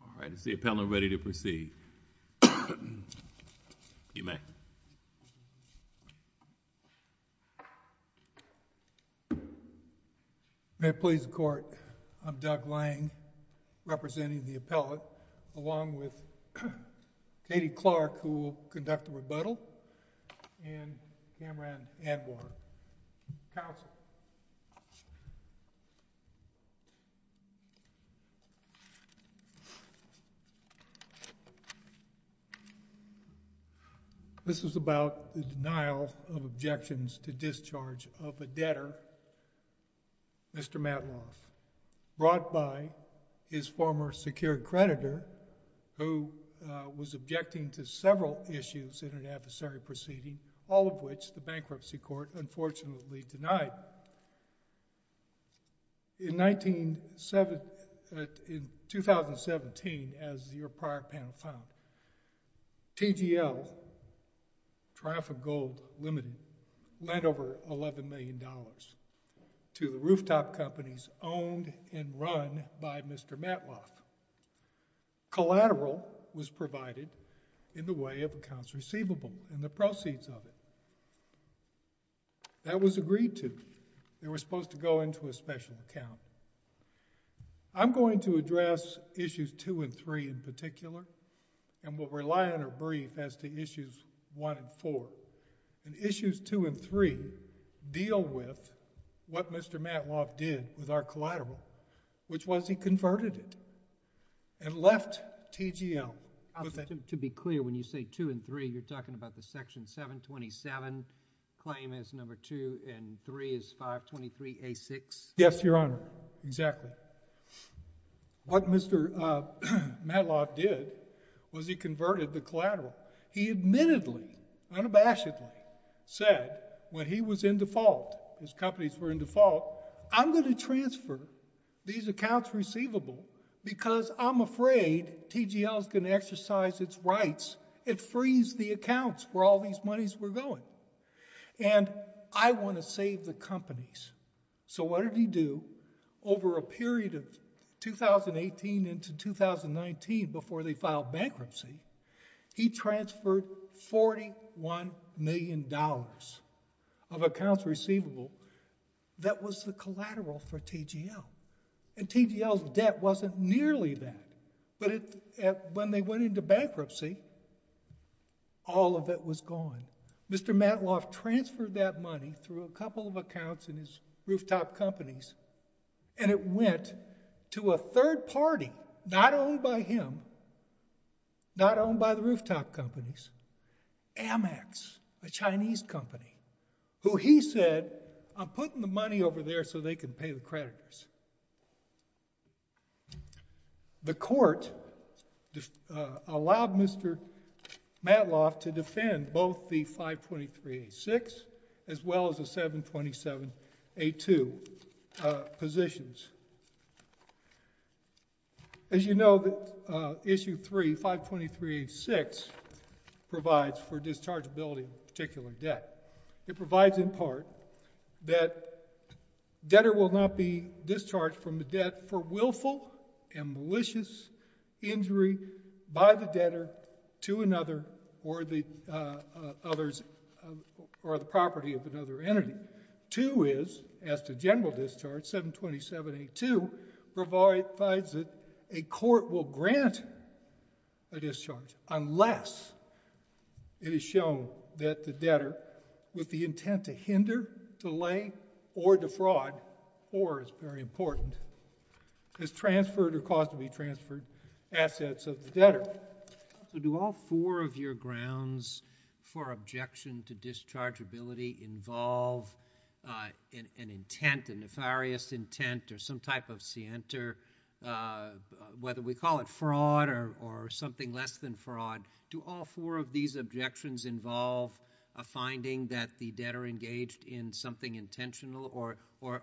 All right, is the appellant ready to proceed? You may. May it please the Court, I'm Doug Lang, representing the appellate, along with Katie Clark, who will conduct the rebuttal, and Cameron Edward, counsel. This is about the denial of objections to discharge of a debtor, Mr. Matloff, brought by his former secured creditor, who was objecting to several issues in an adversary proceeding, all of which the Bankruptcy Court unfortunately denied. In 2017, as your prior panel found, TGL, Triumphant Gold Limited, lent over $11 million to the rooftop companies owned and run by Mr. Matloff. Collateral was provided in the way of accounts receivable and the proceeds of it. That was agreed to. They were supposed to go into a special account. I'm going to address issues 2 and 3 in particular, and will rely on a brief as to issues 1 and 4. Issues 2 and 3 deal with what Mr. Matloff did with our collateral, which was he converted it and left TGL. To be clear, when you say 2 and 3, you're talking about the Section 727 claim as number 2 and 3 as 523A6? Yes, Your Honor, exactly. What Mr. Matloff did was he converted the collateral. He admittedly, unabashedly, said when he was in default, his companies were in default, I'm going to transfer these accounts receivable because I'm afraid TGL is going to exercise its rights. It frees the accounts where all these monies were going, and I want to save the companies. What did he do over a period of 2018 into 2019 before they filed bankruptcy? He transferred $41 million of accounts receivable that was the collateral for TGL. TGL's debt wasn't nearly that, but when they went into bankruptcy, all of it was gone. Mr. Matloff transferred that money through a couple of accounts in his rooftop companies, and it went to a third party, not owned by him, not owned by the rooftop companies, Amex, a Chinese company, who he said, I'm putting the money over there so they can pay the creditors. The court allowed Mr. Matloff to defend both the 523-A-6 as well as the 727-A-2 positions. As you know, Issue 3, 523-A-6 provides for dischargeability of a particular debt. It provides in part that debtor will not be discharged from the debt for willful and malicious injury by the debtor to another or the property of another entity. 2 is, as to general discharge, 727-A-2 provides that a court will grant a discharge unless it is shown that the debtor, with the intent to hinder, delay, or defraud, or, it's very important, has transferred or caused to be transferred assets of the debtor. So do all four of your grounds for objection to dischargeability involve an intent, a nefarious intent, or some type of scienter, whether we call it fraud or something less than fraud? Do all four of these objections involve a finding that the debtor engaged in something intentional, or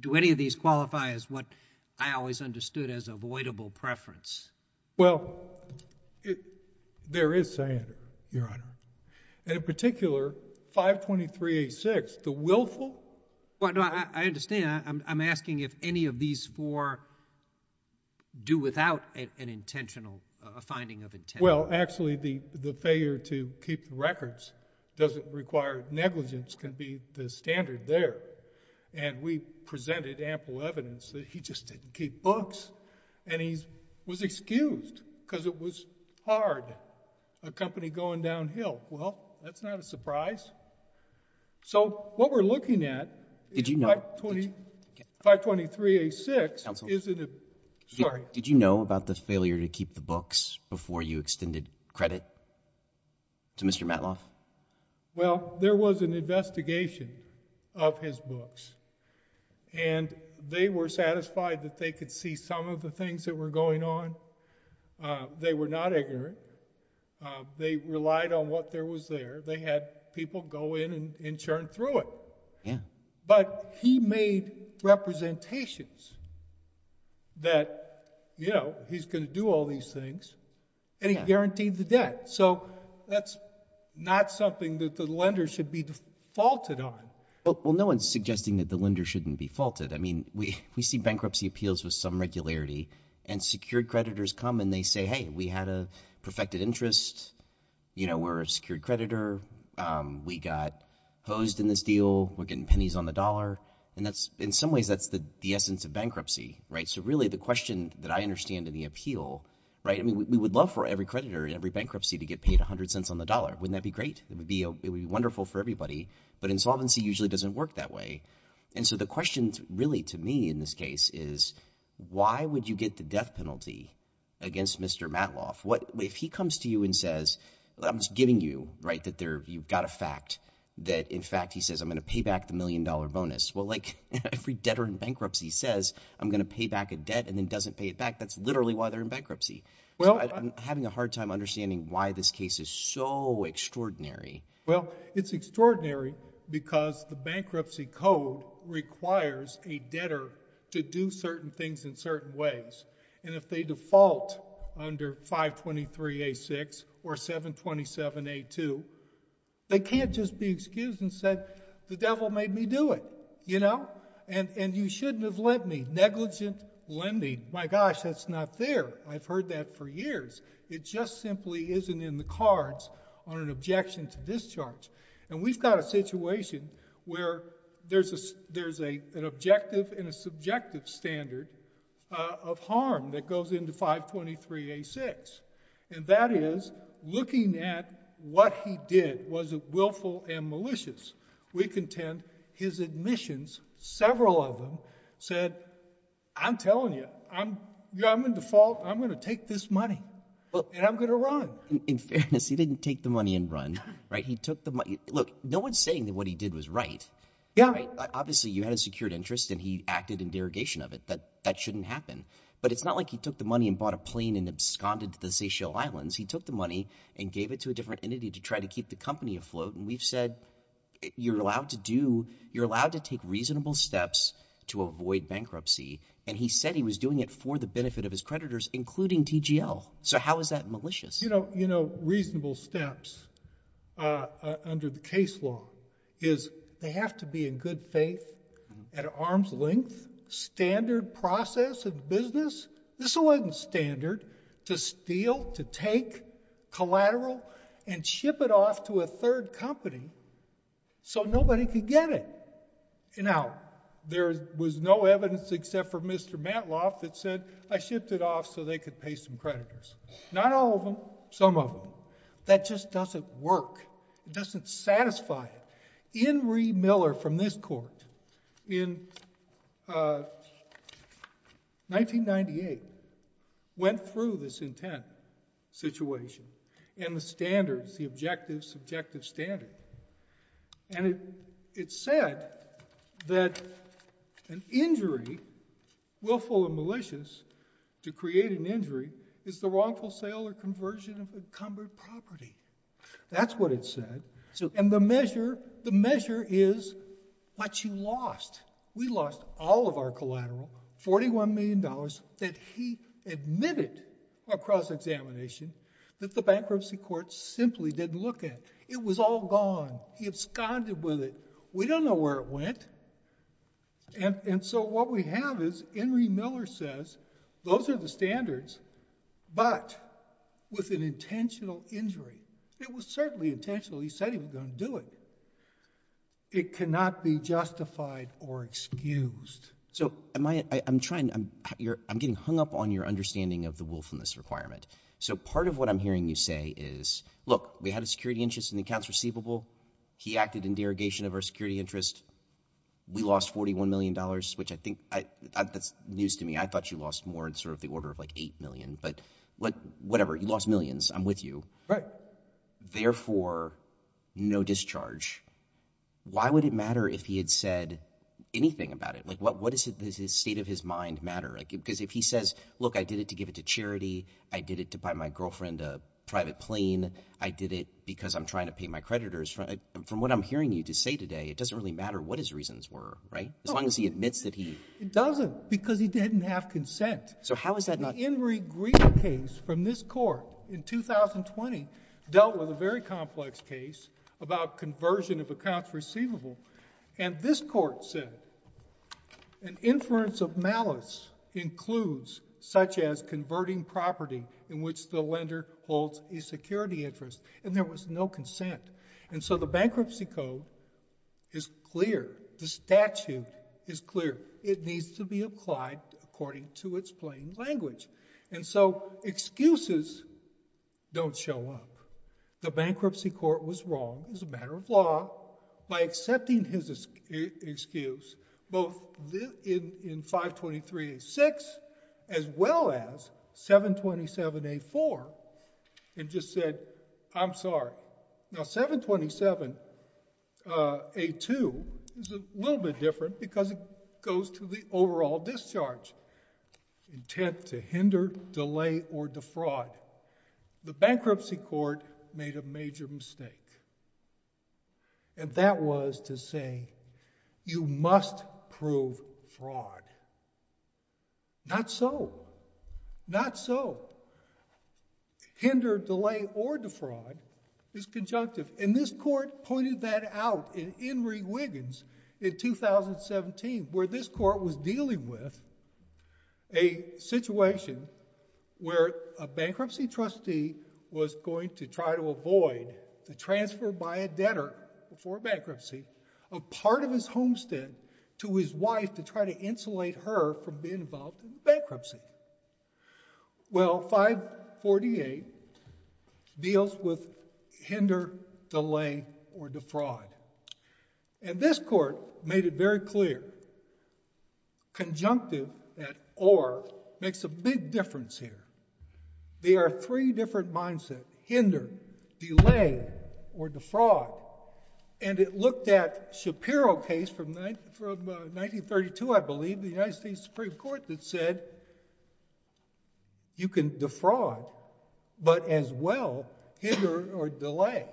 do any of these qualify as what I always understood as avoidable preference? Well, there is scienter, Your Honor. And in particular, 523-A-6, the willful? I understand. I'm asking if any of these four do without an intentional, a finding of intent. Well, actually, the failure to keep the records doesn't require negligence can be the standard there. And we presented ample evidence that he just didn't keep books, and he was excused because it was hard. A company going downhill, well, that's not a surprise. So what we're looking at is 523-A-6. Sorry. Did you know about the failure to keep the books before you extended credit to Mr. Matloff? Well, there was an investigation of his books, and they were satisfied that they could see some of the things that were going on. They were not ignorant. They relied on what there was there. They had people go in and churn through it. Yeah. But he made representations that, you know, he's going to do all these things, and he guaranteed the debt. So that's not something that the lender should be defaulted on. Well, no one's suggesting that the lender shouldn't be faulted. I mean, we see bankruptcy appeals with some regularity, and secured creditors come, and they say, hey, we had a perfected interest. You know, we're a secured creditor. We got hosed in this deal. We're getting pennies on the dollar. And in some ways, that's the essence of bankruptcy, right? So really the question that I understand in the appeal, right? I mean, we would love for every creditor in every bankruptcy to get paid 100 cents on the dollar. Wouldn't that be great? It would be wonderful for everybody, but insolvency usually doesn't work that way. And so the question really to me in this case is why would you get the death penalty against Mr. Matloff? If he comes to you and says, I'm just giving you, right, that you've got a fact that, in fact, he says I'm going to pay back the million-dollar bonus. Well, like every debtor in bankruptcy says, I'm going to pay back a debt and then doesn't pay it back. That's literally why they're in bankruptcy. So I'm having a hard time understanding why this case is so extraordinary. Well, it's extraordinary because the bankruptcy code requires a debtor to do certain things in certain ways. And if they default under 523A6 or 727A2, they can't just be excused and say, the devil made me do it, you know? And you shouldn't have lent me negligent lending. My gosh, that's not fair. I've heard that for years. It just simply isn't in the cards on an objection to discharge. And we've got a situation where there's an objective and a subjective standard of harm that goes into 523A6. And that is looking at what he did. Was it willful and malicious? We contend his admissions, several of them, said, I'm telling you, I'm in default. I'm going to take this money and I'm going to run. In fairness, he didn't take the money and run. He took the money. Look, no one's saying that what he did was right. Obviously, you had a secured interest and he acted in derogation of it. That shouldn't happen. But it's not like he took the money and bought a plane and absconded to the Seychelles Islands. He took the money and gave it to a different entity to try to keep the company afloat. And we've said you're allowed to do you're allowed to take reasonable steps to avoid bankruptcy. And he said he was doing it for the benefit of his creditors, including TGL. So how is that malicious? You know, reasonable steps under the case law is they have to be in good faith at arm's length, standard process of business. This wasn't standard to steal, to take collateral and ship it off to a third company so nobody could get it. Now, there was no evidence except for Mr. Mantloff that said I shipped it off so they could pay some creditors. Not all of them. Some of them. That just doesn't work. It doesn't satisfy it. Inree Miller from this court in 1998 went through this intent situation and the standards, the objectives, subjective standard. And it said that an injury, willful or malicious, to create an injury is the wrongful sale or conversion of encumbered property. That's what it said. And the measure is what you lost. We lost all of our collateral, $41 million that he admitted across examination that the bankruptcy court simply didn't look at. It was all gone. He absconded with it. We don't know where it went. And so what we have is Inree Miller says those are the standards, but with an intentional injury. It was certainly intentional. He said he was going to do it. It cannot be justified or excused. So I'm getting hung up on your understanding of the willfulness requirement. So part of what I'm hearing you say is, look, we had a security interest in the accounts receivable. He acted in derogation of our security interest. We lost $41 million, which I think that's news to me. I thought you lost more in sort of the order of like $8 million. But whatever. You lost millions. I'm with you. Therefore, no discharge. Why would it matter if he had said anything about it? What does the state of his mind matter? Because if he says, look, I did it to give it to charity. I did it to buy my girlfriend a private plane. I did it because I'm trying to pay my creditors. From what I'm hearing you say today, it doesn't really matter what his reasons were, right? As long as he admits that he. It doesn't because he didn't have consent. So how is that not. The Henry Green case from this court in 2020 dealt with a very complex case about conversion of accounts receivable. And this court said an inference of malice includes such as converting property in which the lender holds a security interest. And there was no consent. And so the bankruptcy code is clear. The statute is clear. It needs to be applied according to its plain language. And so excuses don't show up. The bankruptcy court was wrong as a matter of law by accepting his excuse both in 523A6 as well as 727A4 and just said, I'm sorry. Now 727A2 is a little bit different because it goes to the overall discharge intent to hinder, delay, or defraud. The bankruptcy court made a major mistake. And that was to say, you must prove fraud. Not so. Not so. Hinder, delay, or defraud is conjunctive. And this court pointed that out in Henry Wiggins in 2017 where this court was dealing with a situation where a bankruptcy trustee was going to try to avoid the transfer by a debtor before bankruptcy of part of his homestead to his wife to try to insulate her from being involved in bankruptcy. Well, 548 deals with hinder, delay, or defraud. And this court made it very clear. Conjunctive, that or, makes a big difference here. There are three different mindsets, hinder, delay, or defraud. And it looked at Shapiro case from 1932, I believe, the United States Supreme Court that said you can defraud, but as well, hinder or delay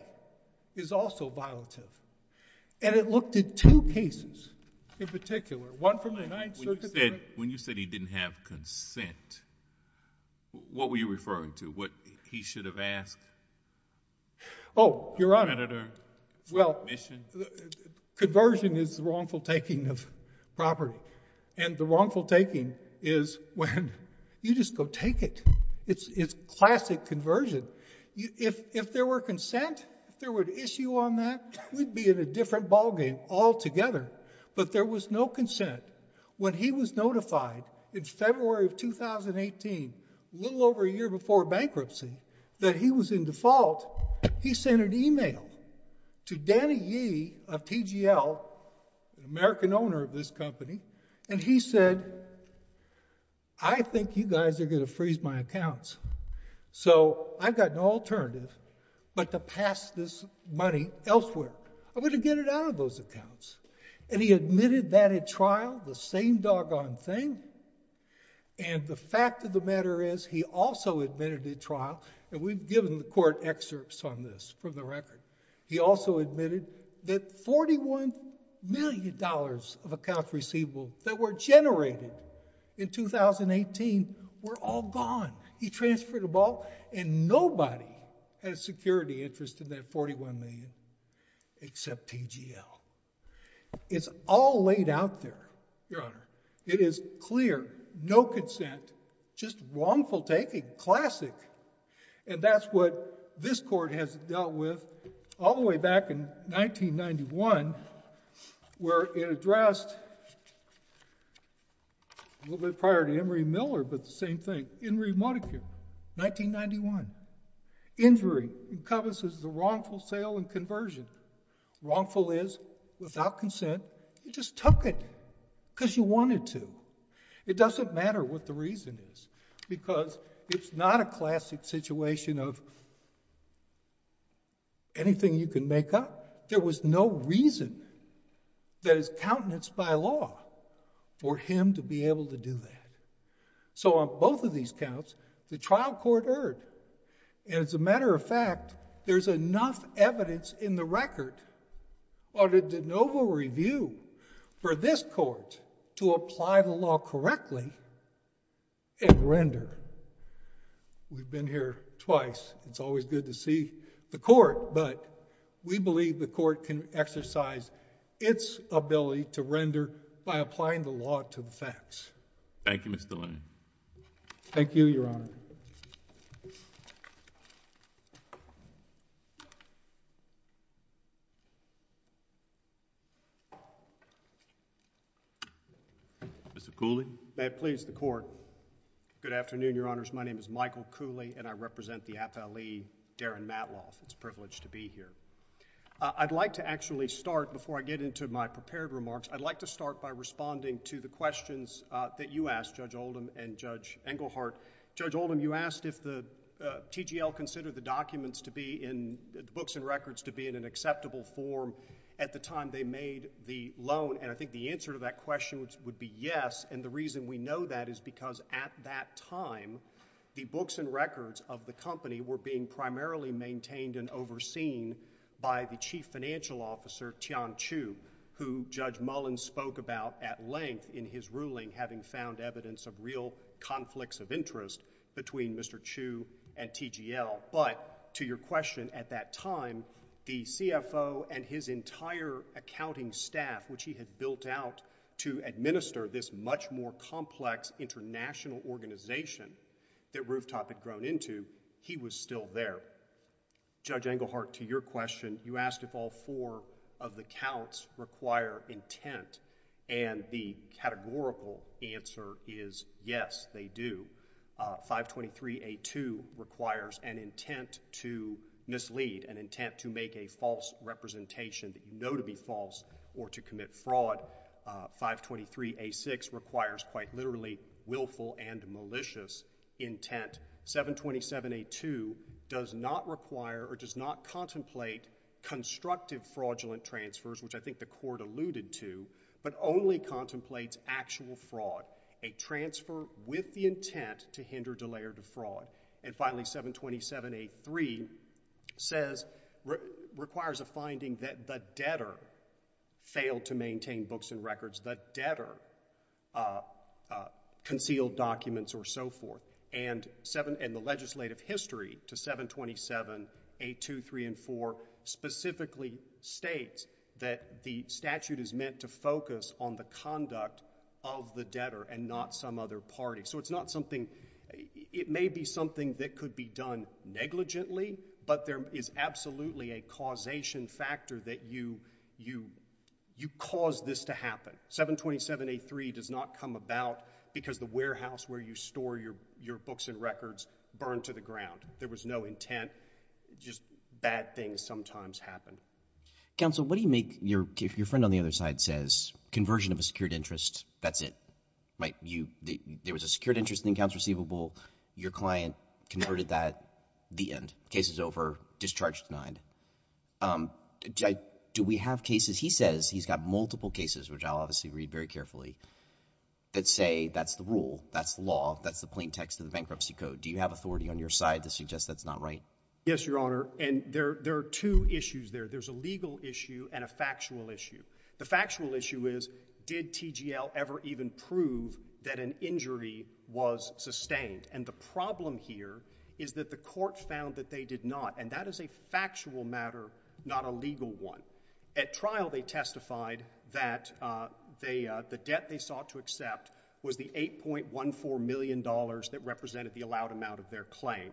is also violative. And it looked at two cases in particular, one from the Ninth Circuit. When you said he didn't have consent, what were you referring to? What he should have asked? Your Honor, well, conversion is the wrongful taking of property. And the wrongful taking is when you just go take it. It's classic conversion. If there were consent, if there were an issue on that, we'd be in a different ballgame altogether. But there was no consent. When he was notified in February of 2018, a little over a year before bankruptcy, that he was in default, he sent an email to Danny Yee of TGL, an American owner of this company. And he said, I think you guys are going to freeze my accounts. So I've got no alternative but to pass this money elsewhere. I'm going to get it out of those accounts. And he admitted that at trial, the same doggone thing. And the fact of the matter is he also admitted at trial, and we've given the court excerpts on this from the record, he also admitted that $41 million of accounts receivable that were generated in 2018 were all gone. He transferred them all, and nobody had a security interest in that $41 million except TGL. It's all laid out there, Your Honor. It is clear, no consent, just wrongful taking, classic. And that's what this court has dealt with all the way back in 1991, where it addressed a little bit prior to Henry Miller, but the same thing. Henry Montague, 1991. Injury encompasses the wrongful sale and conversion. Wrongful is, without consent, you just took it because you wanted to. It doesn't matter what the reason is, because it's not a classic situation of anything you can make up. There was no reason that is countenance by law for him to be able to do that. So on both of these counts, the trial court erred. And as a matter of fact, there's enough evidence in the record under de novo review for this court to apply the law correctly and render. We've been here twice. It's always good to see the court, but we believe the court can exercise its ability to render by applying the law to the facts. Thank you, Mr. Lane. Thank you, Your Honor. Mr. Cooley? May it please the Court. Good afternoon, Your Honors. My name is Michael Cooley, and I represent the FLE Darren Matloff. It's a privilege to be here. I'd like to actually start, before I get into my prepared remarks, I'd like to start by responding to the questions. That you asked, Judge Oldham and Judge Engelhardt. Judge Oldham, you asked if the TGL considered the documents to be in the books and records to be in an acceptable form at the time they made the loan. And I think the answer to that question would be yes. And the reason we know that is because at that time, the books and records of the company were being primarily maintained and overseen by the Chief Financial Officer, Tian Chu, who Judge Mullen spoke about at length in his ruling, having found evidence of real conflicts of interest between Mr. Chu and TGL. But to your question, at that time, the CFO and his entire accounting staff, which he had built out to administer this much more complex international organization that Rooftop had grown into, he was still there. Judge Engelhardt, to your question, you asked if all four of the counts require intent. And the categorical answer is yes, they do. 523A2 requires an intent to mislead, an intent to make a false representation that you know to be false or to commit fraud. 523A6 requires quite literally willful and malicious intent. 727A2 does not require or does not contemplate constructive fraudulent transfers, which I think the Court alluded to, but only contemplates actual fraud, a transfer with the intent to hinder, delay, or defraud. And finally, 727A3 requires a finding that the debtor failed to maintain books and records, the debtor concealed documents or so forth. And the legislative history to 727A2, 3, and 4 specifically states that the statute is meant to focus on the conduct of the debtor and not some other party. So it's not something—it may be something that could be done negligently, but there is absolutely a causation factor that you cause this to happen. 727A3 does not come about because the warehouse where you store your books and records burned to the ground. There was no intent. Just bad things sometimes happen. Counsel, what do you make—your friend on the other side says conversion of a secured interest, that's it. There was a secured interest in accounts receivable. Your client converted that, the end. Case is over. Discharge denied. Do we have cases—he says he's got multiple cases, which I'll obviously read very carefully, that say that's the rule, that's the law, that's the plain text of the bankruptcy code. Do you have authority on your side to suggest that's not right? Yes, Your Honor, and there are two issues there. There's a legal issue and a factual issue. The factual issue is, did TGL ever even prove that an injury was sustained? And the problem here is that the court found that they did not, and that is a factual matter, not a legal one. At trial, they testified that the debt they sought to accept was the $8.14 million that represented the allowed amount of their claim,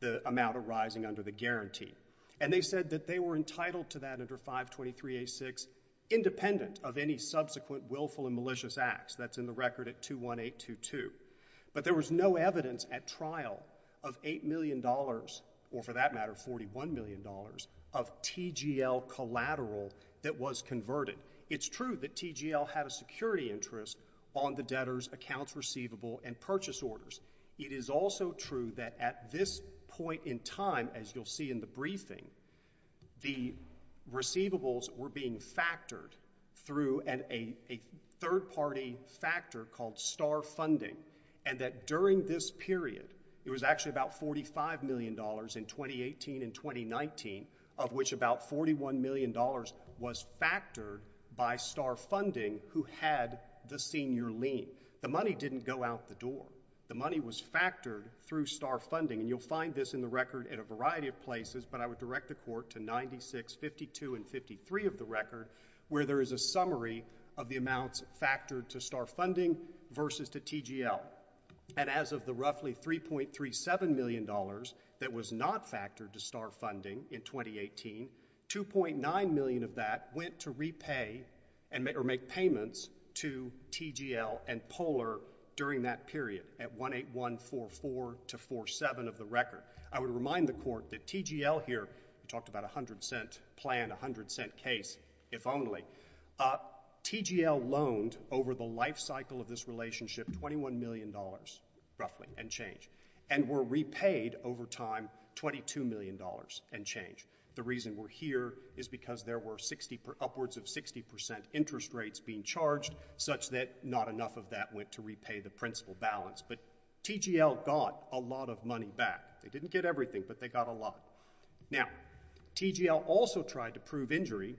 the amount arising under the guarantee. And they said that they were entitled to that under 523A6, independent of any subsequent willful and malicious acts. That's in the record at 21822. But there was no evidence at trial of $8 million, or for that matter, $41 million, of TGL collateral that was converted. It's true that TGL had a security interest on the debtors' accounts receivable and purchase orders. It is also true that at this point in time, as you'll see in the briefing, the receivables were being factored through a third-party factor called star funding, and that during this period, it was actually about $45 million in 2018 and 2019, of which about $41 million was factored by star funding who had the senior lien. The money didn't go out the door. The money was factored through star funding, and you'll find this in the record in a variety of places, but I would direct the Court to 96, 52, and 53 of the record, where there is a summary of the amounts factored to star funding versus to TGL. And as of the roughly $3.37 million that was not factored to star funding in 2018, $2.9 million of that went to repay or make payments to TGL and Poehler during that period at 18144-47 of the record. I would remind the Court that TGL here—we talked about a 100-cent plan, a 100-cent case, if only— TGL loaned over the life cycle of this relationship $21 million, roughly, and change, and were repaid over time $22 million and change. The reason we're here is because there were upwards of 60 percent interest rates being charged, such that not enough of that went to repay the principal balance, but TGL got a lot of money back. They didn't get everything, but they got a lot. Now, TGL also tried to prove injury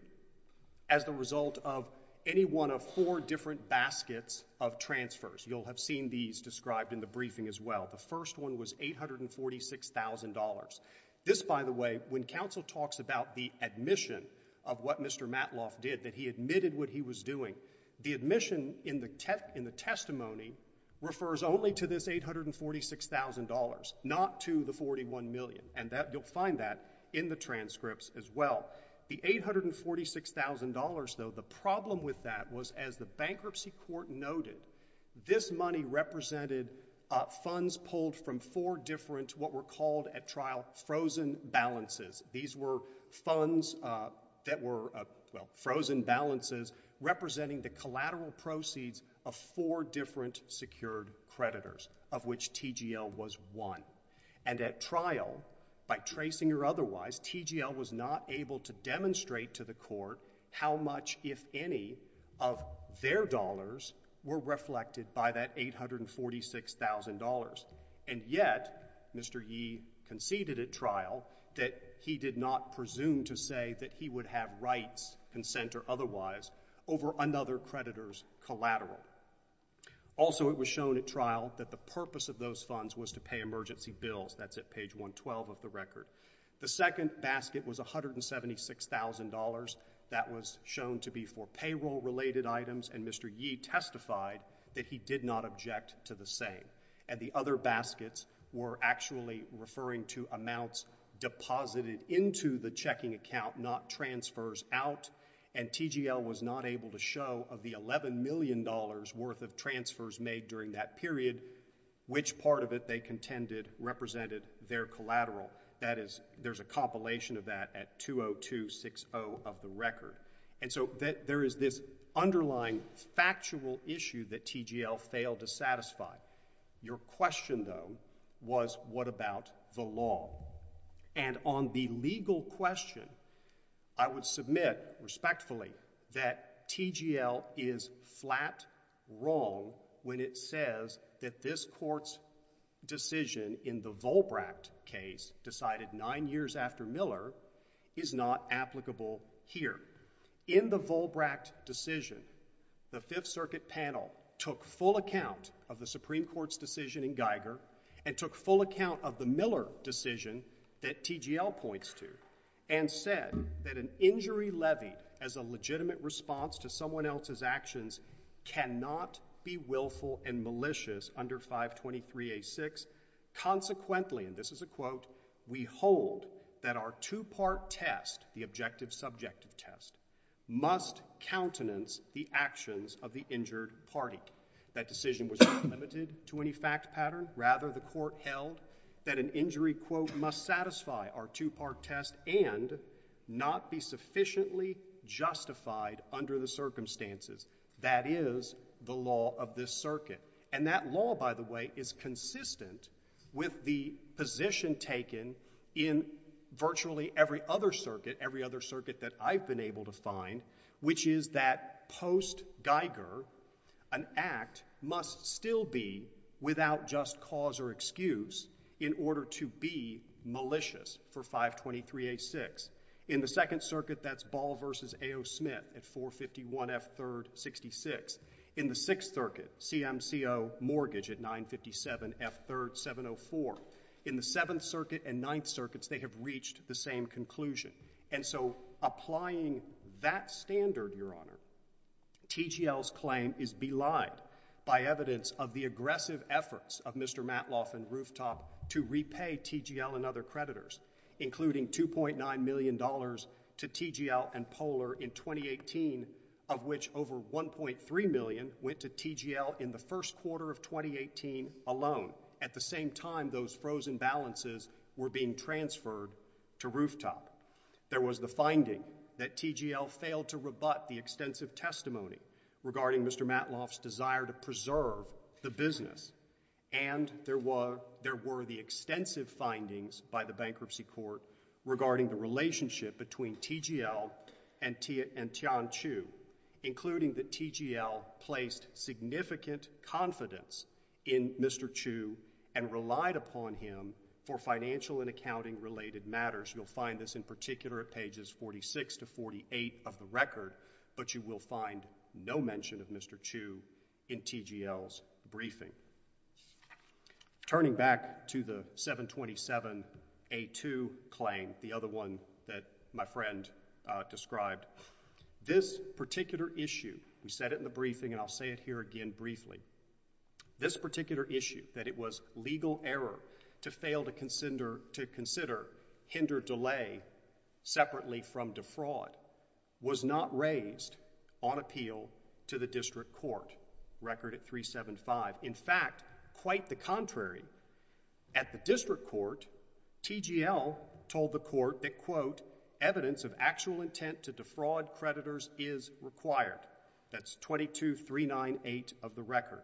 as the result of any one of four different baskets of transfers. You'll have seen these described in the briefing as well. The first one was $846,000. This, by the way, when counsel talks about the admission of what Mr. Matloff did, that he admitted what he was doing, the admission in the testimony refers only to this $846,000, not to the $41 million. And you'll find that in the transcripts as well. The $846,000, though, the problem with that was, as the bankruptcy court noted, this money represented funds pulled from four different, what were called at trial, frozen balances. These were funds that were—well, frozen balances representing the collateral proceeds of four different secured creditors, of which TGL was one. And at trial, by tracing or otherwise, TGL was not able to demonstrate to the court how much, if any, of their dollars were reflected by that $846,000. And yet, Mr. Yee conceded at trial that he did not presume to say that he would have rights, consent or otherwise, over another creditor's collateral. Also, it was shown at trial that the purpose of those funds was to pay emergency bills. That's at page 112 of the record. The second basket was $176,000. That was shown to be for payroll-related items, and Mr. Yee testified that he did not object to the same. And the other baskets were actually referring to amounts deposited into the checking account, not transfers out. And TGL was not able to show of the $11 million worth of transfers made during that period, which part of it they contended represented their collateral. That is, there's a compilation of that at 20260 of the record. And so, there is this underlying factual issue that TGL failed to satisfy. Your question, though, was what about the law? And on the legal question, I would submit, respectfully, that TGL is flat wrong when it says that this court's decision in the Volbracht case, decided nine years after Miller, is not applicable here. In the Volbracht decision, the Fifth Circuit panel took full account of the Supreme Court's decision in Geiger, and took full account of the Miller decision that TGL points to, and said that an injury levied as a legitimate response to someone else's actions cannot be willful and malicious under 523A6. Consequently, and this is a quote, we hold that our two-part test, the objective subjective test, must countenance the actions of the injured party. That decision was not limited to any fact pattern. Rather, the court held that an injury quote must satisfy our two-part test and not be sufficiently justified under the circumstances. That is the law of this circuit. And that law, by the way, is consistent with the position taken in virtually every other circuit, every other circuit that I've been able to find, which is that post-Geiger, an act must still be without just cause or excuse in order to be malicious for 523A6. In the Second Circuit, that's Ball v. A.O. Smith at 451F3rd66. In the Sixth Circuit, CMCO Mortgage at 957F3rd704. In the Seventh Circuit and Ninth Circuits, they have reached the same conclusion. And so applying that standard, Your Honor, TGL's claim is belied by evidence of the aggressive efforts of Mr. Matloff and Rooftop to repay TGL and other creditors, including $2.9 million to TGL and Poehler in 2018, of which over $1.3 million went to TGL in the first quarter of 2018 alone. At the same time, those frozen balances were being transferred to Rooftop. There was the finding that TGL failed to rebut the extensive testimony regarding Mr. Matloff's desire to preserve the business. And there were the extensive findings by the Bankruptcy Court regarding the relationship between TGL and Tian Chu, including that TGL placed significant confidence in Mr. Chu and relied upon him for financial and accounting-related matters. You'll find this in particular at pages 46 to 48 of the record, but you will find no mention of Mr. Chu in TGL's briefing. Turning back to the 727A2 claim, the other one that my friend described, this particular issue, we said it in the briefing and I'll say it here again briefly, this particular issue, that it was legal error to fail to consider hindered delay separately from defraud, was not raised on appeal to the District Court, record at 375. In fact, quite the contrary, at the District Court, TGL told the court that, quote, evidence of actual intent to defraud creditors is required. That's 22398 of the record.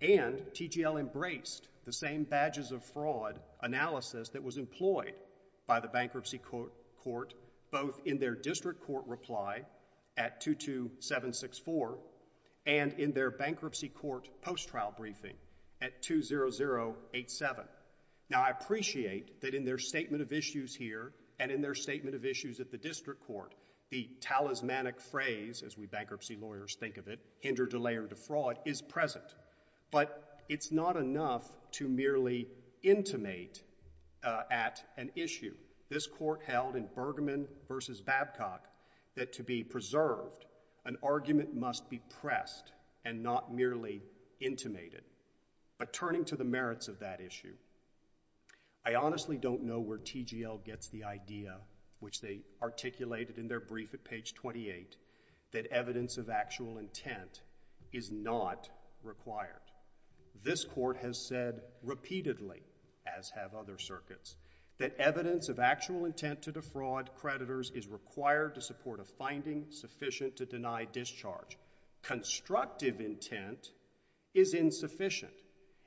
And TGL embraced the same badges of fraud analysis that was employed by the Bankruptcy Court, both in their District Court reply at 22764 and in their Bankruptcy Court post-trial briefing at 20087. Now, I appreciate that in their statement of issues here and in their statement of issues at the District Court, the talismanic phrase, as we bankruptcy lawyers think of it, hindered delay or defraud, is present. But it's not enough to merely intimate at an issue. This court held in Bergman v. Babcock that to be preserved, an argument must be pressed and not merely intimated. But turning to the merits of that issue, I honestly don't know where TGL gets the idea, which they articulated in their brief at page 28, that evidence of actual intent is not required. This court has said repeatedly, as have other circuits, that evidence of actual intent to defraud creditors is required to support a finding sufficient to deny discharge. Constructive intent is insufficient.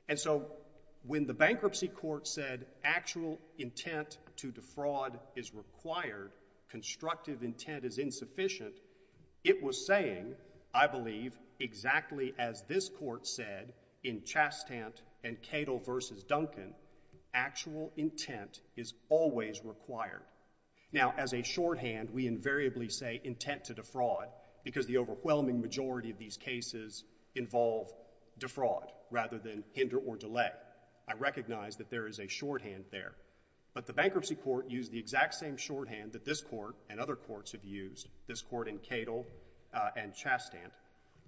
And so when the Bankruptcy Court said actual intent to defraud is required, constructive intent is insufficient, it was saying, I believe, exactly as this court said in Chastant and Cadle v. Duncan, actual intent is always required. Now, as a shorthand, we invariably say intent to defraud, because the overwhelming majority of these cases involve defraud rather than hinder or delay. I recognize that there is a shorthand there. But the Bankruptcy Court used the exact same shorthand that this court and other courts have used, this court in Cadle and Chastant.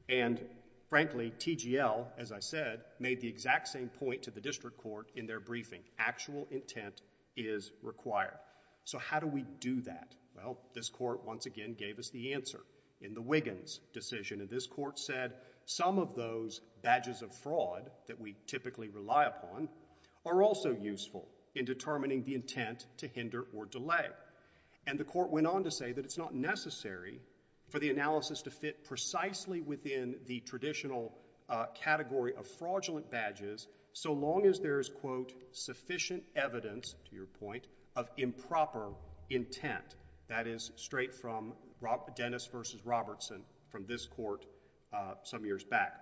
And frankly, TGL, as I said, made the exact same point to the District Court in their briefing. Actual intent is required. So how do we do that? Well, this court once again gave us the answer in the Wiggins decision. And this court said some of those badges of fraud that we typically rely upon are also useful in determining the intent to hinder or delay. And the court went on to say that it's not necessary for the analysis to fit precisely within the traditional category of fraudulent badges so long as there is, quote, sufficient evidence, to your point, of improper intent. That is straight from Dennis v. Robertson from this court some years back.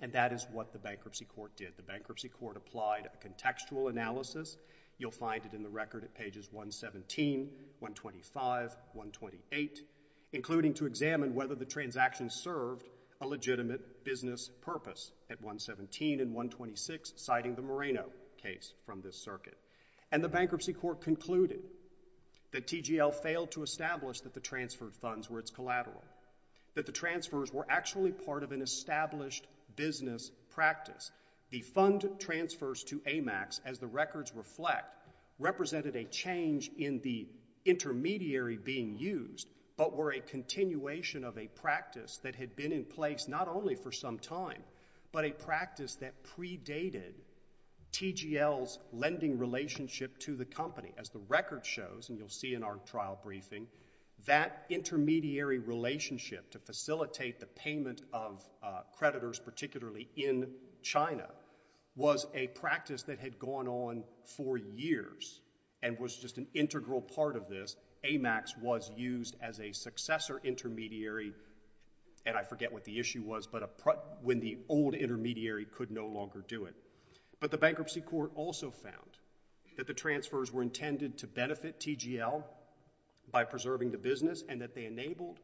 And that is what the Bankruptcy Court did. The Bankruptcy Court applied a contextual analysis. You'll find it in the record at pages 117, 125, 128, including to examine whether the transaction served a legitimate business purpose at 117 and 126, citing the Moreno case from this circuit. And the Bankruptcy Court concluded that TGL failed to establish that the transferred funds were its collateral, that the transfers were actually part of an established business practice. The fund transfers to AMAX, as the records reflect, represented a change in the intermediary being used but were a continuation of a practice that had been in place not only for some time but a practice that predated TGL's lending relationship to the company. As the record shows, and you'll see in our trial briefing, that intermediary relationship to facilitate the payment of creditors, particularly in China, was a practice that had gone on for years and was just an integral part of this. AMAX was used as a successor intermediary, and I forget what the issue was, but when the old intermediary could no longer do it. But the Bankruptcy Court also found that the transfers were intended to benefit TGL by preserving the business and that they enabled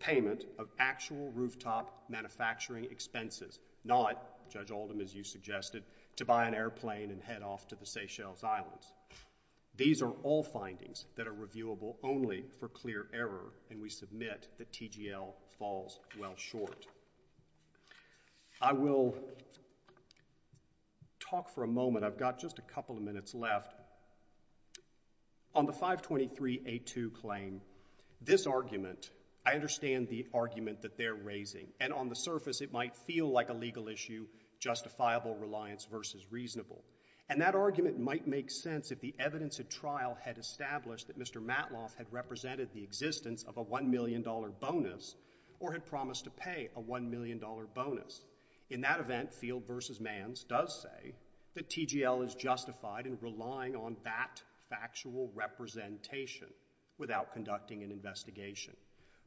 payment of actual rooftop manufacturing expenses, not, Judge Oldham, as you suggested, to buy an airplane and head off to the Seychelles Islands. These are all findings that are reviewable only for clear error, and we submit that TGL falls well short. I will talk for a moment. I've got just a couple of minutes left. On the 523A2 claim, this argument, I understand the argument that they're raising, and on the surface it might feel like a legal issue, justifiable reliance versus reasonable. And that argument might make sense if the evidence at trial had established that Mr. Matloff had represented the existence of a $1 million bonus or had promised to pay a $1 million bonus. In that event, Field v. Manns does say that TGL is justified in relying on that factual representation without conducting an investigation.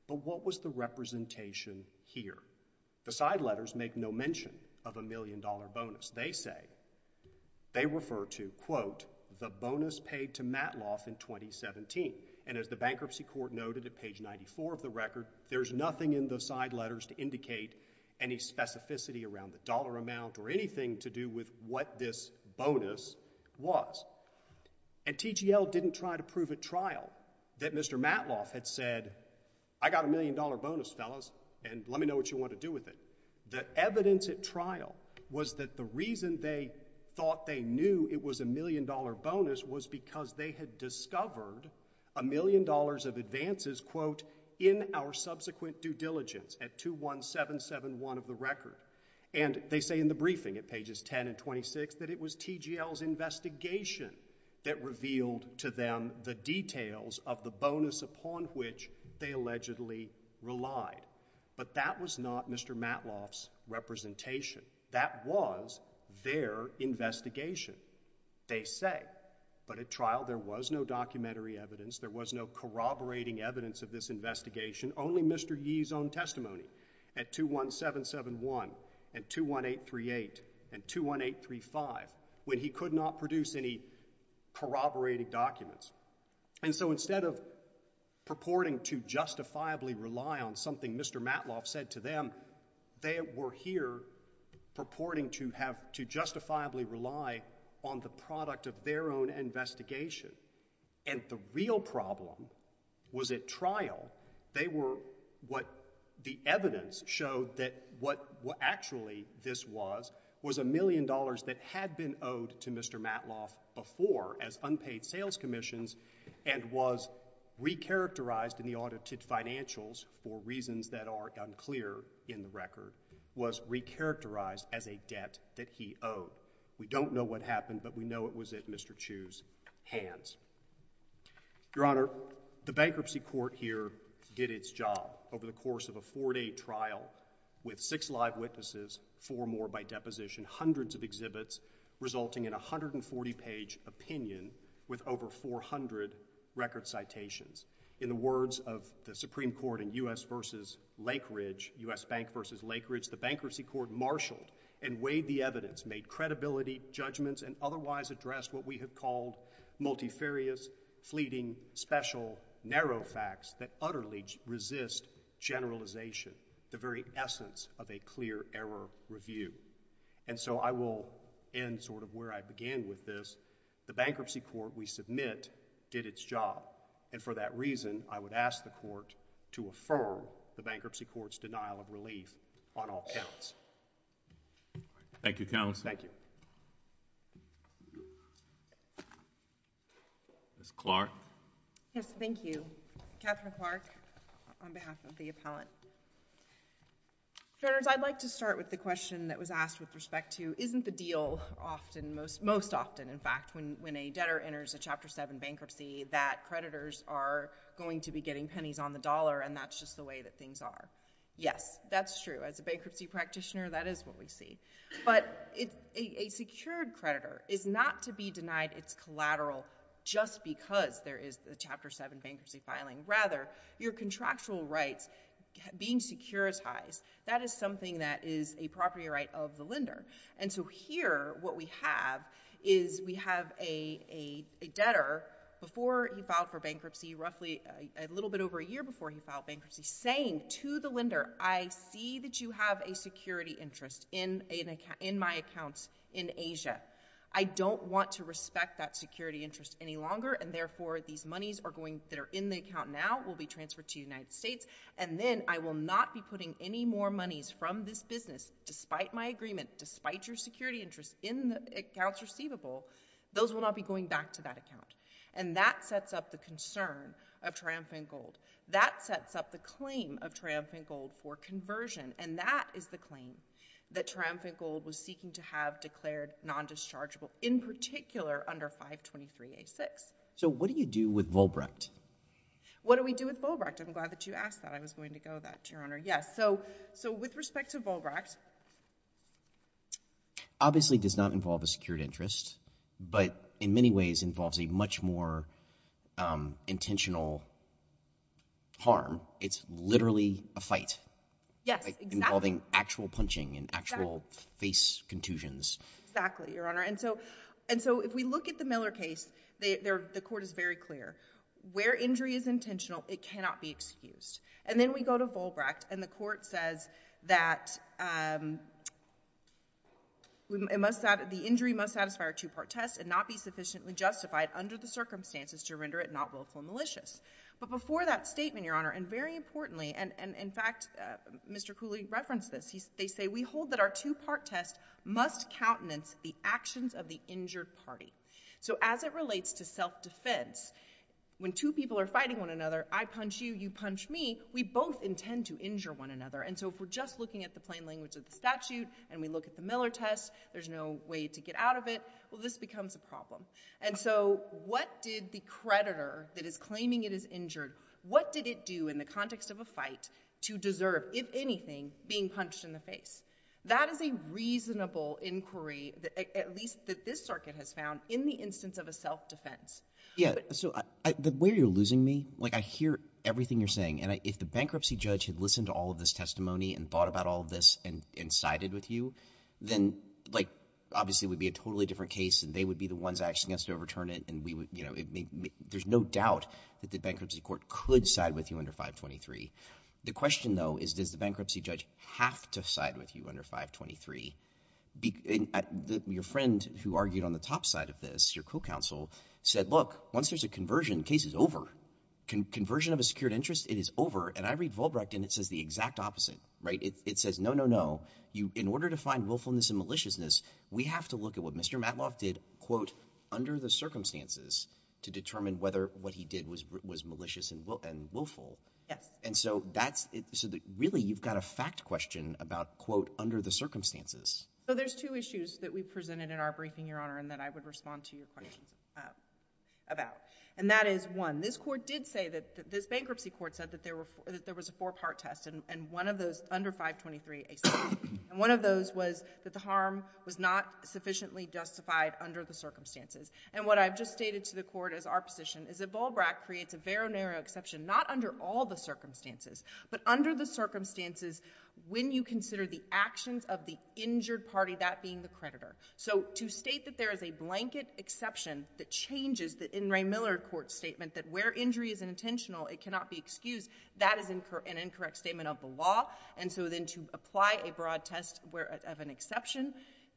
But what was the representation here? The side letters make no mention of a $1 million bonus. They say, they refer to, quote, the bonus paid to Matloff in 2017. And as the Bankruptcy Court noted at page 94 of the record, there's nothing in the side letters to indicate any specificity around the dollar amount or anything to do with what this bonus was. And TGL didn't try to prove at trial that Mr. Matloff had said, I got a $1 million bonus, fellas, and let me know what you want to do with it. The evidence at trial was that the reason they thought they knew it was a $1 million bonus was because they had discovered a million dollars of advances, quote, in our subsequent due diligence at 21771 of the record. And they say in the briefing at pages 10 and 26 that it was TGL's investigation that revealed to them the details of the bonus upon which they allegedly relied. But that was not Mr. Matloff's representation. That was their investigation, they say. But at trial there was no documentary evidence, there was no corroborating evidence of this investigation, only Mr. Yee's own testimony. At 21771 and 21838 and 21835, when he could not produce any corroborating documents. And so instead of purporting to justifiably rely on something Mr. Matloff said to them, they were here purporting to justifiably rely on the product of their own investigation. And the real problem was at trial, they were what the evidence showed that what actually this was was a million dollars that had been owed to Mr. Matloff before as unpaid sales commissions and was re-characterized in the audited financials for reasons that are unclear in the record, was re-characterized as a debt that he owed. We don't know what happened, but we know it was at Mr. Chu's hands. Your Honor, the Bankruptcy Court here did its job over the course of a four-day trial with six live witnesses, four more by deposition, hundreds of exhibits, resulting in a 140-page opinion with over 400 record citations. In the words of the Supreme Court in U.S. v. Lake Ridge, U.S. Bank v. Lake Ridge, the Bankruptcy Court marshalled and weighed the evidence, made credibility judgments, and otherwise addressed what we have called multifarious, fleeting, special, narrow facts that utterly resist generalization, the very essence of a clear error review. And so I will end sort of where I began with this. The Bankruptcy Court, we submit, did its job, and for that reason, I would ask the Court to affirm the Bankruptcy Court's denial of relief on all counts. Thank you, Counsel. Thank you. Ms. Clark. Yes, thank you. Catherine Clark on behalf of the appellant. Judges, I'd like to start with the question that was asked with respect to, isn't the deal often, most often, in fact, when a debtor enters a Chapter 7 bankruptcy that creditors are going to be getting pennies on the dollar and that's just the way that things are? Yes, that's true. As a bankruptcy practitioner, that is what we see. But a secured creditor is not to be denied its collateral just because there is a Chapter 7 bankruptcy filing. Rather, your contractual rights being securitized, that is something that is a property right of the lender. And so here, what we have is we have a debtor, before he filed for bankruptcy, roughly a little bit over a year before he filed bankruptcy, saying to the lender, I see that you have a security interest in my accounts in Asia. I don't want to respect that security interest any longer and, therefore, these monies that are in the account now will be transferred to the United States and then I will not be putting any more monies from this business, despite my agreement, despite your security interest in the accounts receivable, those will not be going back to that account. And that sets up the concern of Triumphant Gold. That sets up the claim of Triumphant Gold for conversion and that is the claim that Triumphant Gold was seeking to have declared non-dischargeable, in particular, under 523A6. So what do you do with Volbrecht? What do we do with Volbrecht? I'm glad that you asked that. I was going to go with that, Your Honor. Yes, so with respect to Volbrecht... Obviously, it does not involve a secured interest, but in many ways involves a much more intentional harm. It's literally a fight. Yes, exactly. Involving actual punching and actual face contusions. Exactly, Your Honor. And so if we look at the Miller case, the court is very clear. Where injury is intentional, it cannot be excused. And then we go to Volbrecht and the court says that the injury must satisfy our two-part test and not be sufficiently justified under the circumstances to render it not willful and malicious. But before that statement, Your Honor, and very importantly, and in fact, Mr. Cooley referenced this, they say we hold that our two-part test must countenance the actions of the injured party. So as it relates to self-defense, when two people are fighting one another, I punch you, you punch me, we both intend to injure one another. And so if we're just looking at the plain language of the statute and we look at the Miller test, there's no way to get out of it, well, this becomes a problem. And so what did the creditor that is claiming it is injured, what did it do in the context of a fight to deserve, if anything, being punched in the face? That is a reasonable inquiry, at least that this circuit has found, in the instance of a self-defense. Yeah, so the way you're losing me, like, I hear everything you're saying, and if the bankruptcy judge had listened to all of this testimony and thought about all of this and sided with you, then, like, obviously it would be a totally different case and they would be the ones asking us to overturn it and we would, you know, there's no doubt that the bankruptcy court could side with you under 523. The question, though, is does the bankruptcy judge have to side with you under 523? Your friend who argued on the top side of this, your co-counsel, said, look, once there's a conversion, the case is over. Conversion of a secured interest, it is over, and I read Volbrecht and it says the exact opposite. Right? It says, no, no, no, in order to find willfulness and maliciousness, we have to look at what Mr. Matloff did, quote, under the circumstances, to determine whether what he did was malicious and willful. Yes. And so that's, really, you've got a fact question about, quote, under the circumstances. So there's two issues that we presented in our briefing, Your Honor, and that I would respond to your questions about. And that is, one, this bankruptcy court said that there was a four-part test and one of those, under 523, and one of those was that the harm was not sufficiently justified under the circumstances. And what I've just stated to the court as our position is that Volbrecht creates a very narrow exception, not under all the circumstances, but under the circumstances when you consider the actions of the injured party, that being the creditor. So to state that there is a blanket exception that changes the In re Miller Court statement that where injury is unintentional, it cannot be excused, that is an incorrect statement of the law. And so then to apply a broad test of an exception,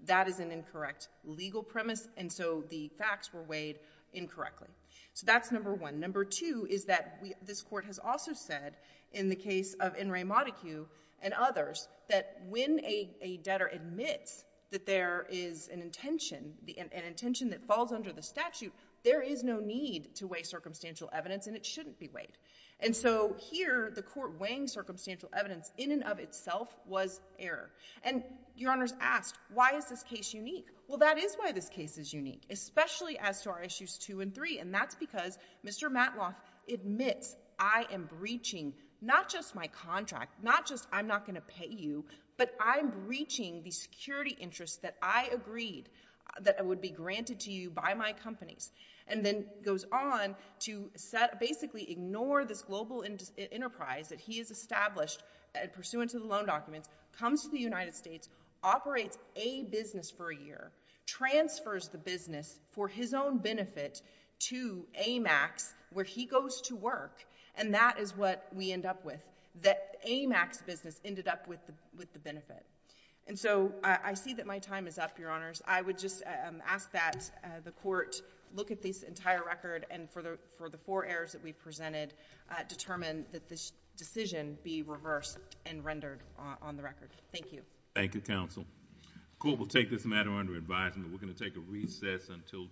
that is an incorrect legal premise. And so the facts were weighed incorrectly. So that's number one. Number two is that this court has also said, in the case of In re. Modicu and others, that when a debtor admits that there is an intention, an intention that falls under the statute, there is no need to weigh circumstantial evidence and it shouldn't be weighed. And so here, the court weighing circumstantial evidence in and of itself was error. And Your Honors asked, why is this case unique? Well, that is why this case is unique, especially as to our issues two and three, and that's because Mr. Matloff admits I am breaching not just my contract, not just I'm not going to pay you, but I'm breaching the security interests that I agreed that would be granted to you by my companies, and then goes on to basically ignore this global enterprise that he has established pursuant to the loan documents, comes to the United States, operates a business for a year, transfers the business for his own benefit to AMAX, where he goes to work, and that is what we end up with, that AMAX business ended up with the benefit. And so I see that my time is up, Your Honors. I would just ask that the court look at this entire record and for the four errors that we presented, determine that this decision be reversed and rendered on the record. Thank you. Thank you, Counsel. The court will take this matter under advisement. We're going to take a recess until 2 p.m.